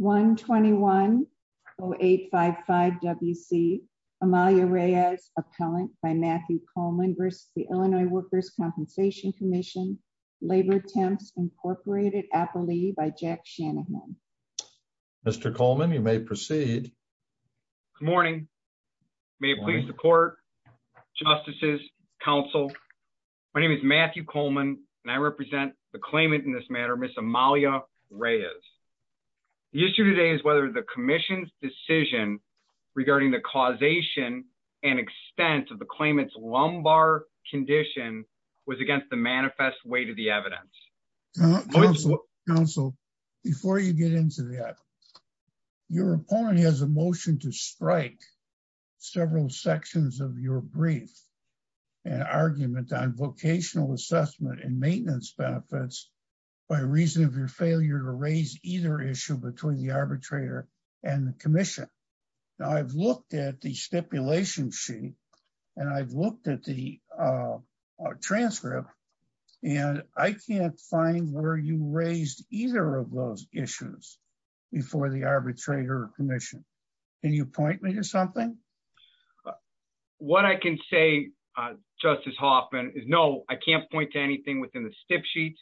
1-21-0855-WC, Amalia Reyes, Appellant by Matthew Coleman v. Illinois Workers' Compensation Comm'n, Labor Attempts, Inc. Appellee by Jack Shanahan. Mr. Coleman, you may proceed. Good morning. May it please the court, justices, counsel. My name is Matthew Coleman and I represent the claimant in this matter, Ms. Amalia Reyes. The issue today is whether the commission's decision regarding the causation and extent of the claimant's lumbar condition was against the manifest weight of the evidence. Counsel, before you get into that, your opponent has a motion to strike several sections of your brief and argument on vocational assessment and maintenance benefits by reason of your failure to raise either issue between the arbitrator and the commission. Now I've looked at the stipulation sheet and I've looked at the transcript and I can't find where you raised either of those issues before the arbitrator or commission. Can you point me to something? What I can say, uh, Justice Hoffman is no, I can't point to anything within the stip sheet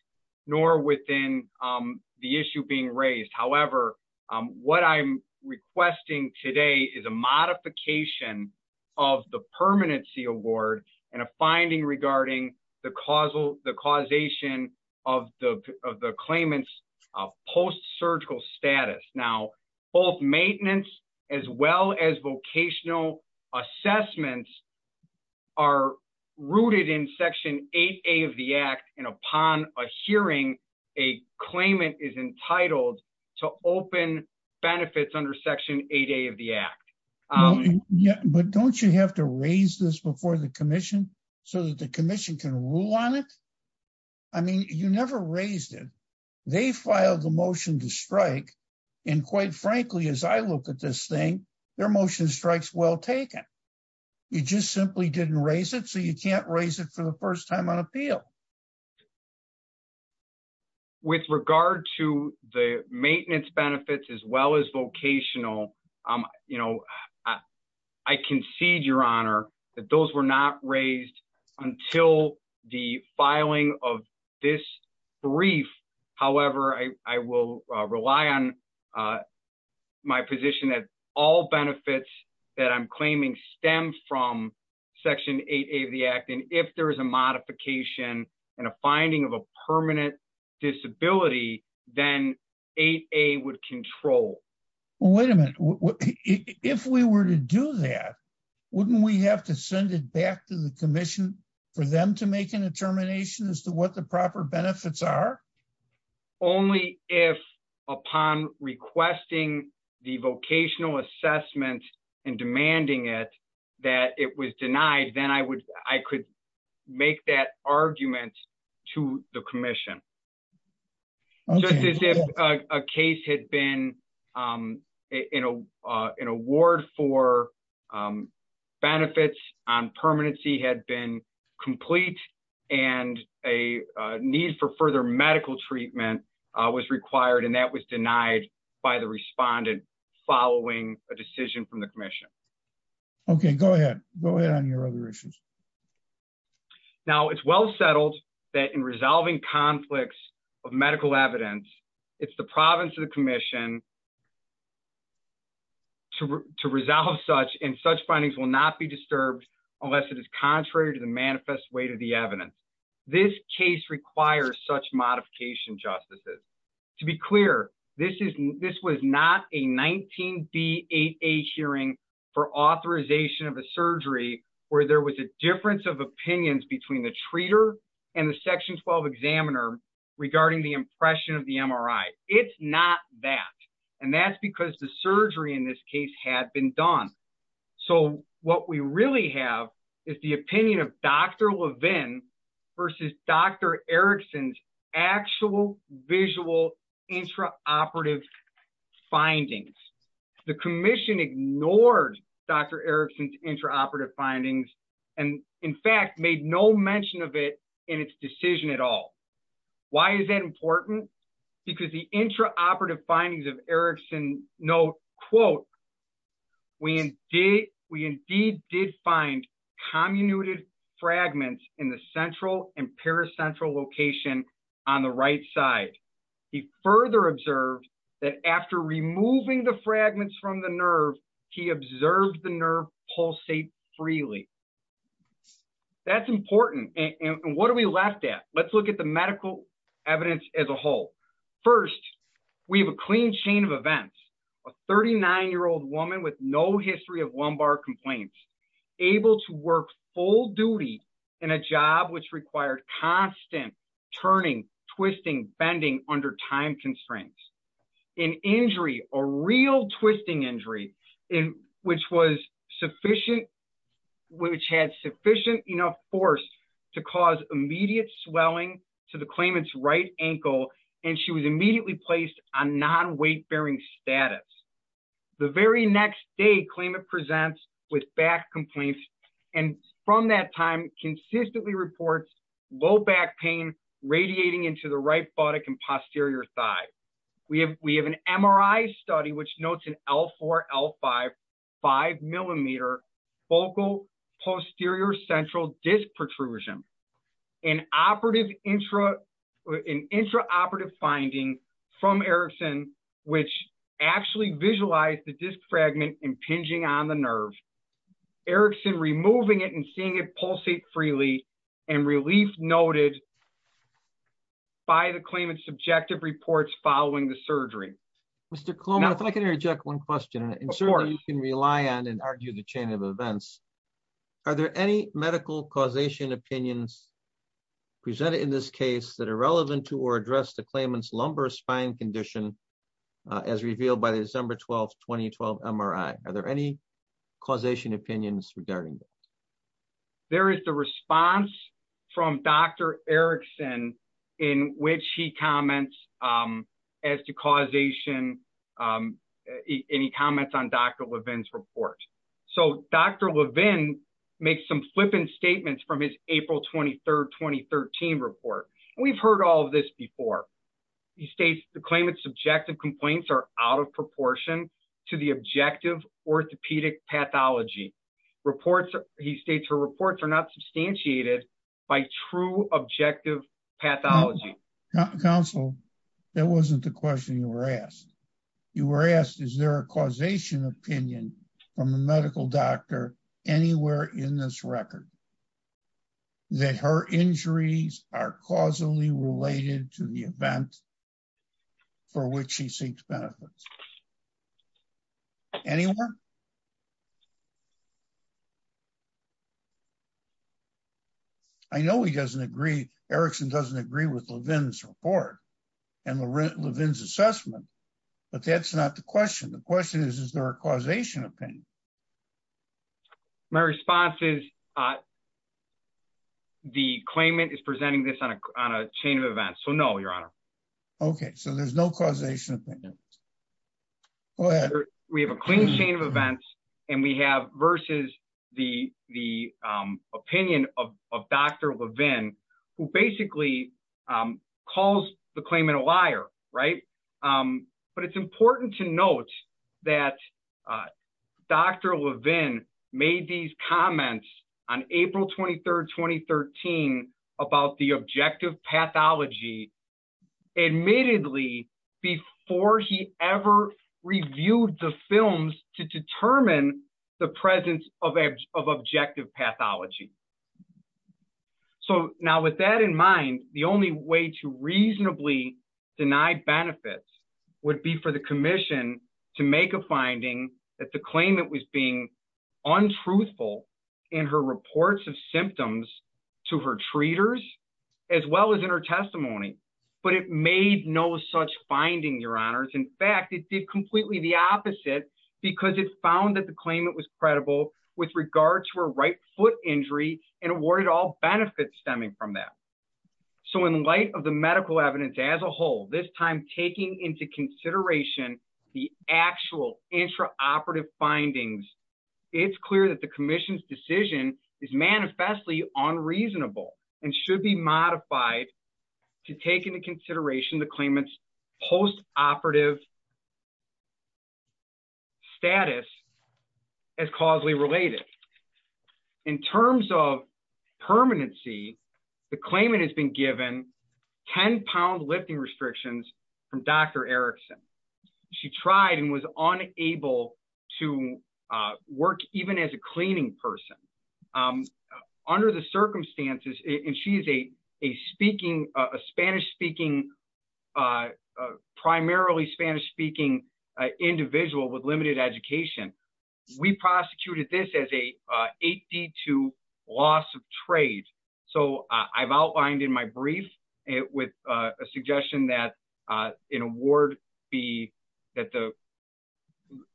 nor within, um, the issue being raised. However, um, what I'm requesting today is a modification of the permanency award and a finding regarding the causal, the causation of the, of the claimants of post-surgical status now, both maintenance as well as vocational assessments are rooted in section eight, eight of the act. And upon a hearing, a claimant is entitled to open benefits under section eight, eight of the act. Yeah, but don't you have to raise this before the commission so that the commission can rule on it? I mean, you never raised it. They filed the motion to strike. And quite frankly, as I look at this thing, their motion strikes well taken. You just simply didn't raise it. So you can't raise it for the first time on appeal. With regard to the maintenance benefits as well as vocational, um, you know, I concede your honor that those were not raised until the filing of this brief. However, I, I will rely on, uh, my position that all benefits that I'm claiming stem from section eight, eight of the act, and if there is a modification and a finding of a permanent disability, then eight, a would control. Well, wait a minute. If we were to do that, wouldn't we have to send it back to the commission for them to make a determination as to what the proper benefits are only if upon requesting the vocational assessment and demanding it, that it was denied, then I would, I could make that argument to the commission, just as if a case had been, um, in a, uh, in a ward for, um, benefits on permanency had been complete and a need for further medical treatment, uh, was required. And that was denied by the respondent following a decision from the commission. Okay. Go ahead, go ahead on your other issues. Now it's well settled that in resolving conflicts of medical evidence, it's the province of the commission to resolve such in such findings will not be disturbed unless it is contrary to the manifest way to the evidence. This case requires such modification justices to be clear. This is, this was not a 19 B a hearing for authorization of a surgery where there was a difference of opinions between the treater and the section 12 examiner regarding the impression of the MRI. It's not that, and that's because the surgery in this case had been done. So what we really have is the opinion of Dr. Levin versus Dr. Erickson's actual visual intraoperative findings. The commission ignored Dr. Erickson's intraoperative findings. And in fact, made no mention of it in its decision at all. Why is that important? Because the intraoperative findings of Erickson note quote, we indeed, we indeed did find comminuted fragments in the central and paracentral location on the right side. He further observed that after removing the fragments from the nerve, he observed the nerve pulsate freely. That's important. And what are we left at? Let's look at the medical evidence as a whole. First, we have a clean chain of events. A 39 year old woman with no history of lumbar complaints, able to work full duty in a job, which required constant turning, twisting, bending under time constraints, an injury, a real twisting injury in which was sufficient, which had sufficient enough force to cause immediate swelling to the claimant's right ankle, and she was immediately placed on non-weight bearing status. The very next day claimant presents with back complaints and from that time consistently reports low back pain radiating into the right buttock and posterior thigh, we have, we have an MRI study, which notes an L4, L5, five posterior central disc protrusion, an operative intra, an intraoperative finding from Erickson, which actually visualized the disc fragment impinging on the nerve, Erickson removing it and seeing it pulsate freely and relief noted by the claimant's subjective reports following the surgery. Mr. Kloman, if I can interject one question and certainly you can rely on and argue the chain of events. Are there any medical causation opinions presented in this case that are relevant to or address the claimant's lumbar spine condition as revealed by the December 12th, 2012 MRI? Are there any causation opinions regarding that? There is the response from Dr. Erickson in which he comments as to causation any comments on Dr. Levin's report. So Dr. Levin makes some flippant statements from his April 23rd, 2013 report. We've heard all of this before. He states the claimant's subjective complaints are out of proportion to the objective orthopedic pathology reports. He states her reports are not substantiated by true objective pathology. Counsel, that wasn't the question you were asked. You were asked, is there a causation opinion from a medical doctor anywhere in this record that her injuries are causally related to the event for which she seeks benefits? Anywhere? I know he doesn't agree. Erickson doesn't agree with Levin's report and Levin's assessment. But that's not the question. The question is, is there a causation opinion? My response is, uh, the claimant is presenting this on a, on a chain of events. So no, your honor. Okay. So there's no causation. We have a clean chain of events and we have versus the, the, um, opinion of, of Dr. Levin, who basically, um, calls the claimant a liar, right. Um, but it's important to note that, uh, Dr. Levin made these comments on April 23rd, 2013 about the objective pathology. Admittedly, before he ever reviewed the films to determine the presence of edge of objective pathology. So now with that in mind, the only way to reasonably deny benefits would be for the commission to make a finding that the claimant was being untruthful. In her reports of symptoms to her treaters, as well as in her testimony. But it made no such finding your honors. In fact, it did completely the opposite because it found that the claimant was credible with regard to a right foot injury and awarded all benefits stemming from that. So in light of the medical evidence as a whole, this time taking into consideration the actual intra operative findings, it's clear that the commission's decision is manifestly unreasonable and should be modified. To take into consideration the claimants post operative status. As causally related in terms of permanency, the claimant has been given 10 pound lifting restrictions from Dr. Erickson. She tried and was unable to, uh, work even as a cleaning person, um, under the circumstances. And she is a, a speaking, a Spanish speaking, uh, uh, primarily Spanish speaking, uh, individual with limited education. We prosecuted this as a, uh, 82 loss of trade. So, uh, I've outlined in my brief with a suggestion that, uh, in a ward, the, that the,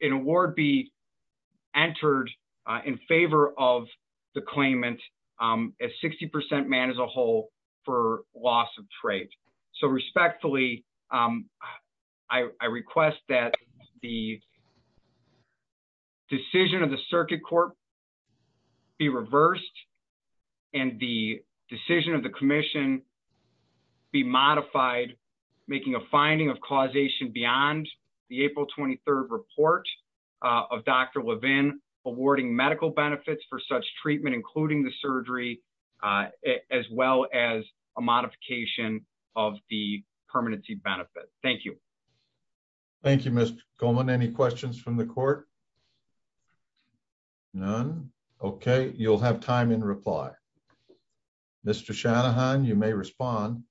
in a ward be entered in favor of the claimant, um, as 60% man as a whole for loss of trade. So respectfully, um, I request that the decision of the circuit court be reversed and the decision of the commission be modified, making a finding of causation beyond the April 23rd report, uh, of Dr. Levin awarding medical benefits for such treatment, including the of the permanency benefit. Thank you. Thank you, Mr. Goldman. Any questions from the court? None. Okay. You'll have time in reply, Mr. Shanahan, you may respond.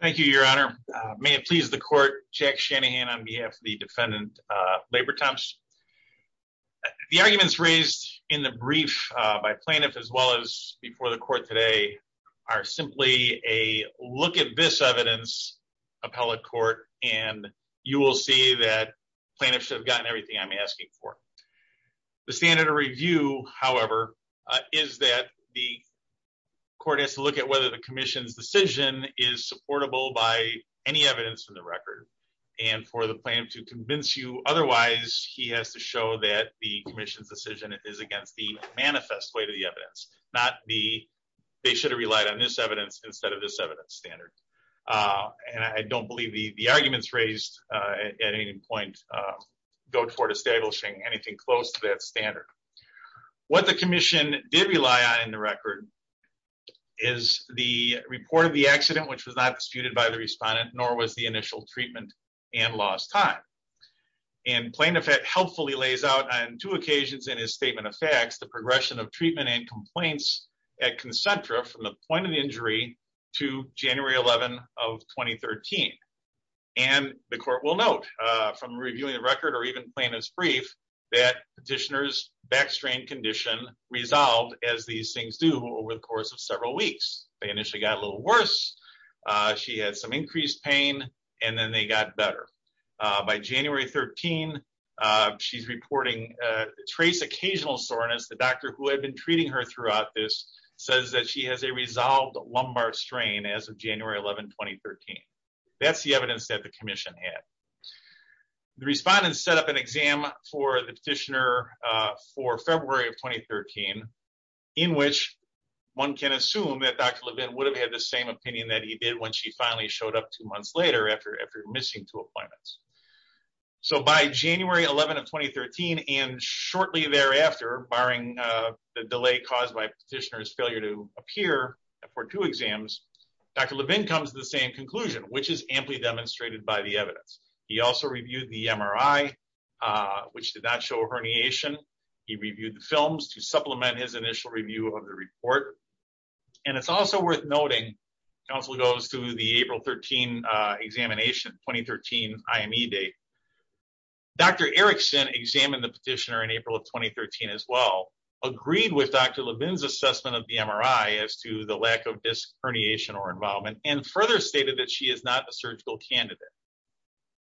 Thank you, your honor. May it please the court check Shanahan on behalf of the defendant, uh, labor temps, the arguments raised in the brief, uh, by plaintiff, as well as before the court today are simply a look at this evidence appellate court, and you will see that plaintiff should have gotten everything I'm asking for the standard of review, however, uh, is that the court has to look at whether the commission's decision is supportable by any evidence in the record. And for the plan to convince you, otherwise he has to show that the commission's decision is against the manifest way to the evidence, not the, they should have relied on this evidence instead of this evidence standard, uh, and I don't believe the, the arguments raised, uh, at any point, uh, go toward establishing anything close to that standard. What the commission did rely on in the record is the report of the accident, which was not disputed by the respondent, nor was the initial treatment and lost time and plaintiff that helpfully lays out on two occasions in his statement of facts, the progression of treatment and complaints at concentra from the point of injury to January 11 of 2013. And the court will note, uh, from reviewing the record or even plaintiff's brief that petitioners backstrain condition resolved as these things do over the course of several weeks, they initially got a little worse. Uh, she had some increased pain and then they got better. Uh, by January 13, uh, she's reporting, uh, trace occasional soreness. The doctor who had been treating her throughout this says that she has a resolved Lombard strain as of January 11, 2013, that's the evidence that the commission had, the respondents set up an exam for the petitioner, uh, for February of 2013, in which one can assume that Dr. Levin would have had the same opinion that he did when she finally showed up two months later after, after missing two appointments. So by January 11 of 2013, and shortly thereafter, barring, uh, the delay caused by petitioner's failure to appear for two exams, Dr. Levin comes to the same conclusion, which is amply demonstrated by the evidence. He also reviewed the MRI, uh, which did not show a herniation. He reviewed the films to supplement his initial review of the report. And it's also worth noting council goes through the April 13, uh, examination, 2013 IME date. Dr. Erickson examined the petitioner in April of 2013 as well, agreed with Dr. Levin's assessment of the MRI as to the lack of disc herniation or involvement, and further stated that she is not a surgical candidate.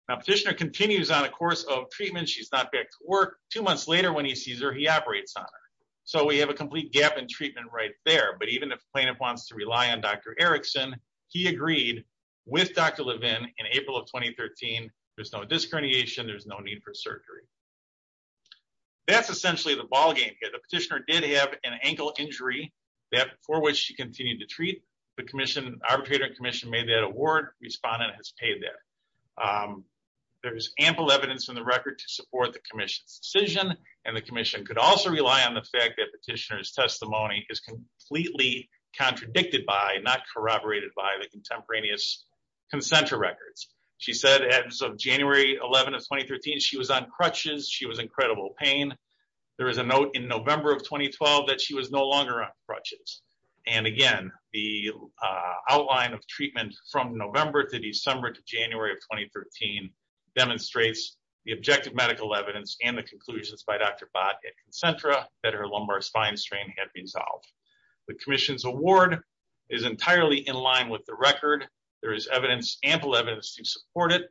Now petitioner continues on a course of treatment. She's not back to work two months later when he sees her, he operates on her. So we have a complete gap in treatment right there. But even if plaintiff wants to rely on Dr. Erickson, he agreed with Dr. Levin in April of 2013, there's no disc herniation. There's no need for surgery. That's essentially the ballgame here. The petitioner did have an ankle injury that for which she continued to treat. The commission arbitrator and commission made that award. Respondent has paid that. Um, there's ample evidence in the record to support the commission's decision. And the commission could also rely on the fact that petitioner's testimony is completely contradicted by not corroborated by the contemporaneous concenter records. She said, as of January 11th, 2013, she was on crutches. She was incredible pain. There was a note in November of 2012 that she was no longer on crutches. And again, the, uh, outline of treatment from November to December, to January of 2013 demonstrates the objective medical evidence and the conclusions by Dr. Bot and concentra that her lumbar spine strain had been solved. The commission's award is entirely in line with the record. There is evidence, ample evidence to support it.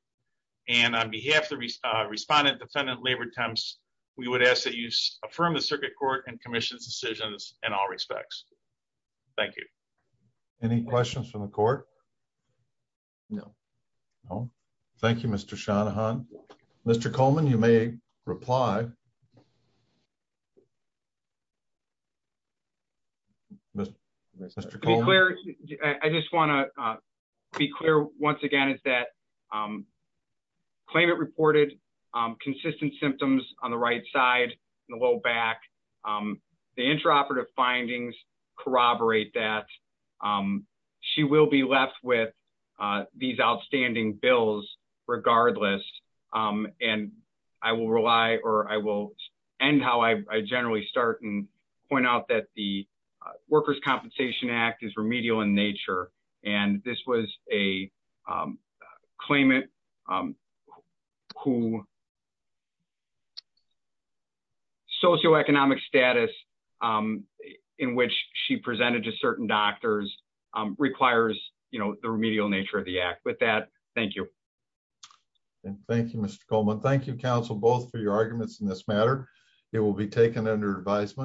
And on behalf of the respondent, defendant labor temps, we would ask that you affirm the circuit court and commission's decisions in all respects. Thank you. Any questions from the court? No, no. Thank you, Mr. Shanahan, Mr. Coleman, you may reply. Mr. Mr. Coleman, I just want to be clear once again, is that, um, claim it reported, um, consistent symptoms on the right side and the low back, um, the intraoperative findings corroborate that, um, she will be left with, uh, these outstanding bills regardless. Um, and I will rely or I will end how I generally start and point out that the, uh, workers compensation act is remedial in nature. And this was a, um, claimant, um, who. Socioeconomic status, um, in which she presented to certain doctors, um, you know, the remedial nature of the act with that. Thank you. And thank you, Mr. Coleman. Thank you. Counsel both for your arguments in this matter, it will be taken under advisement.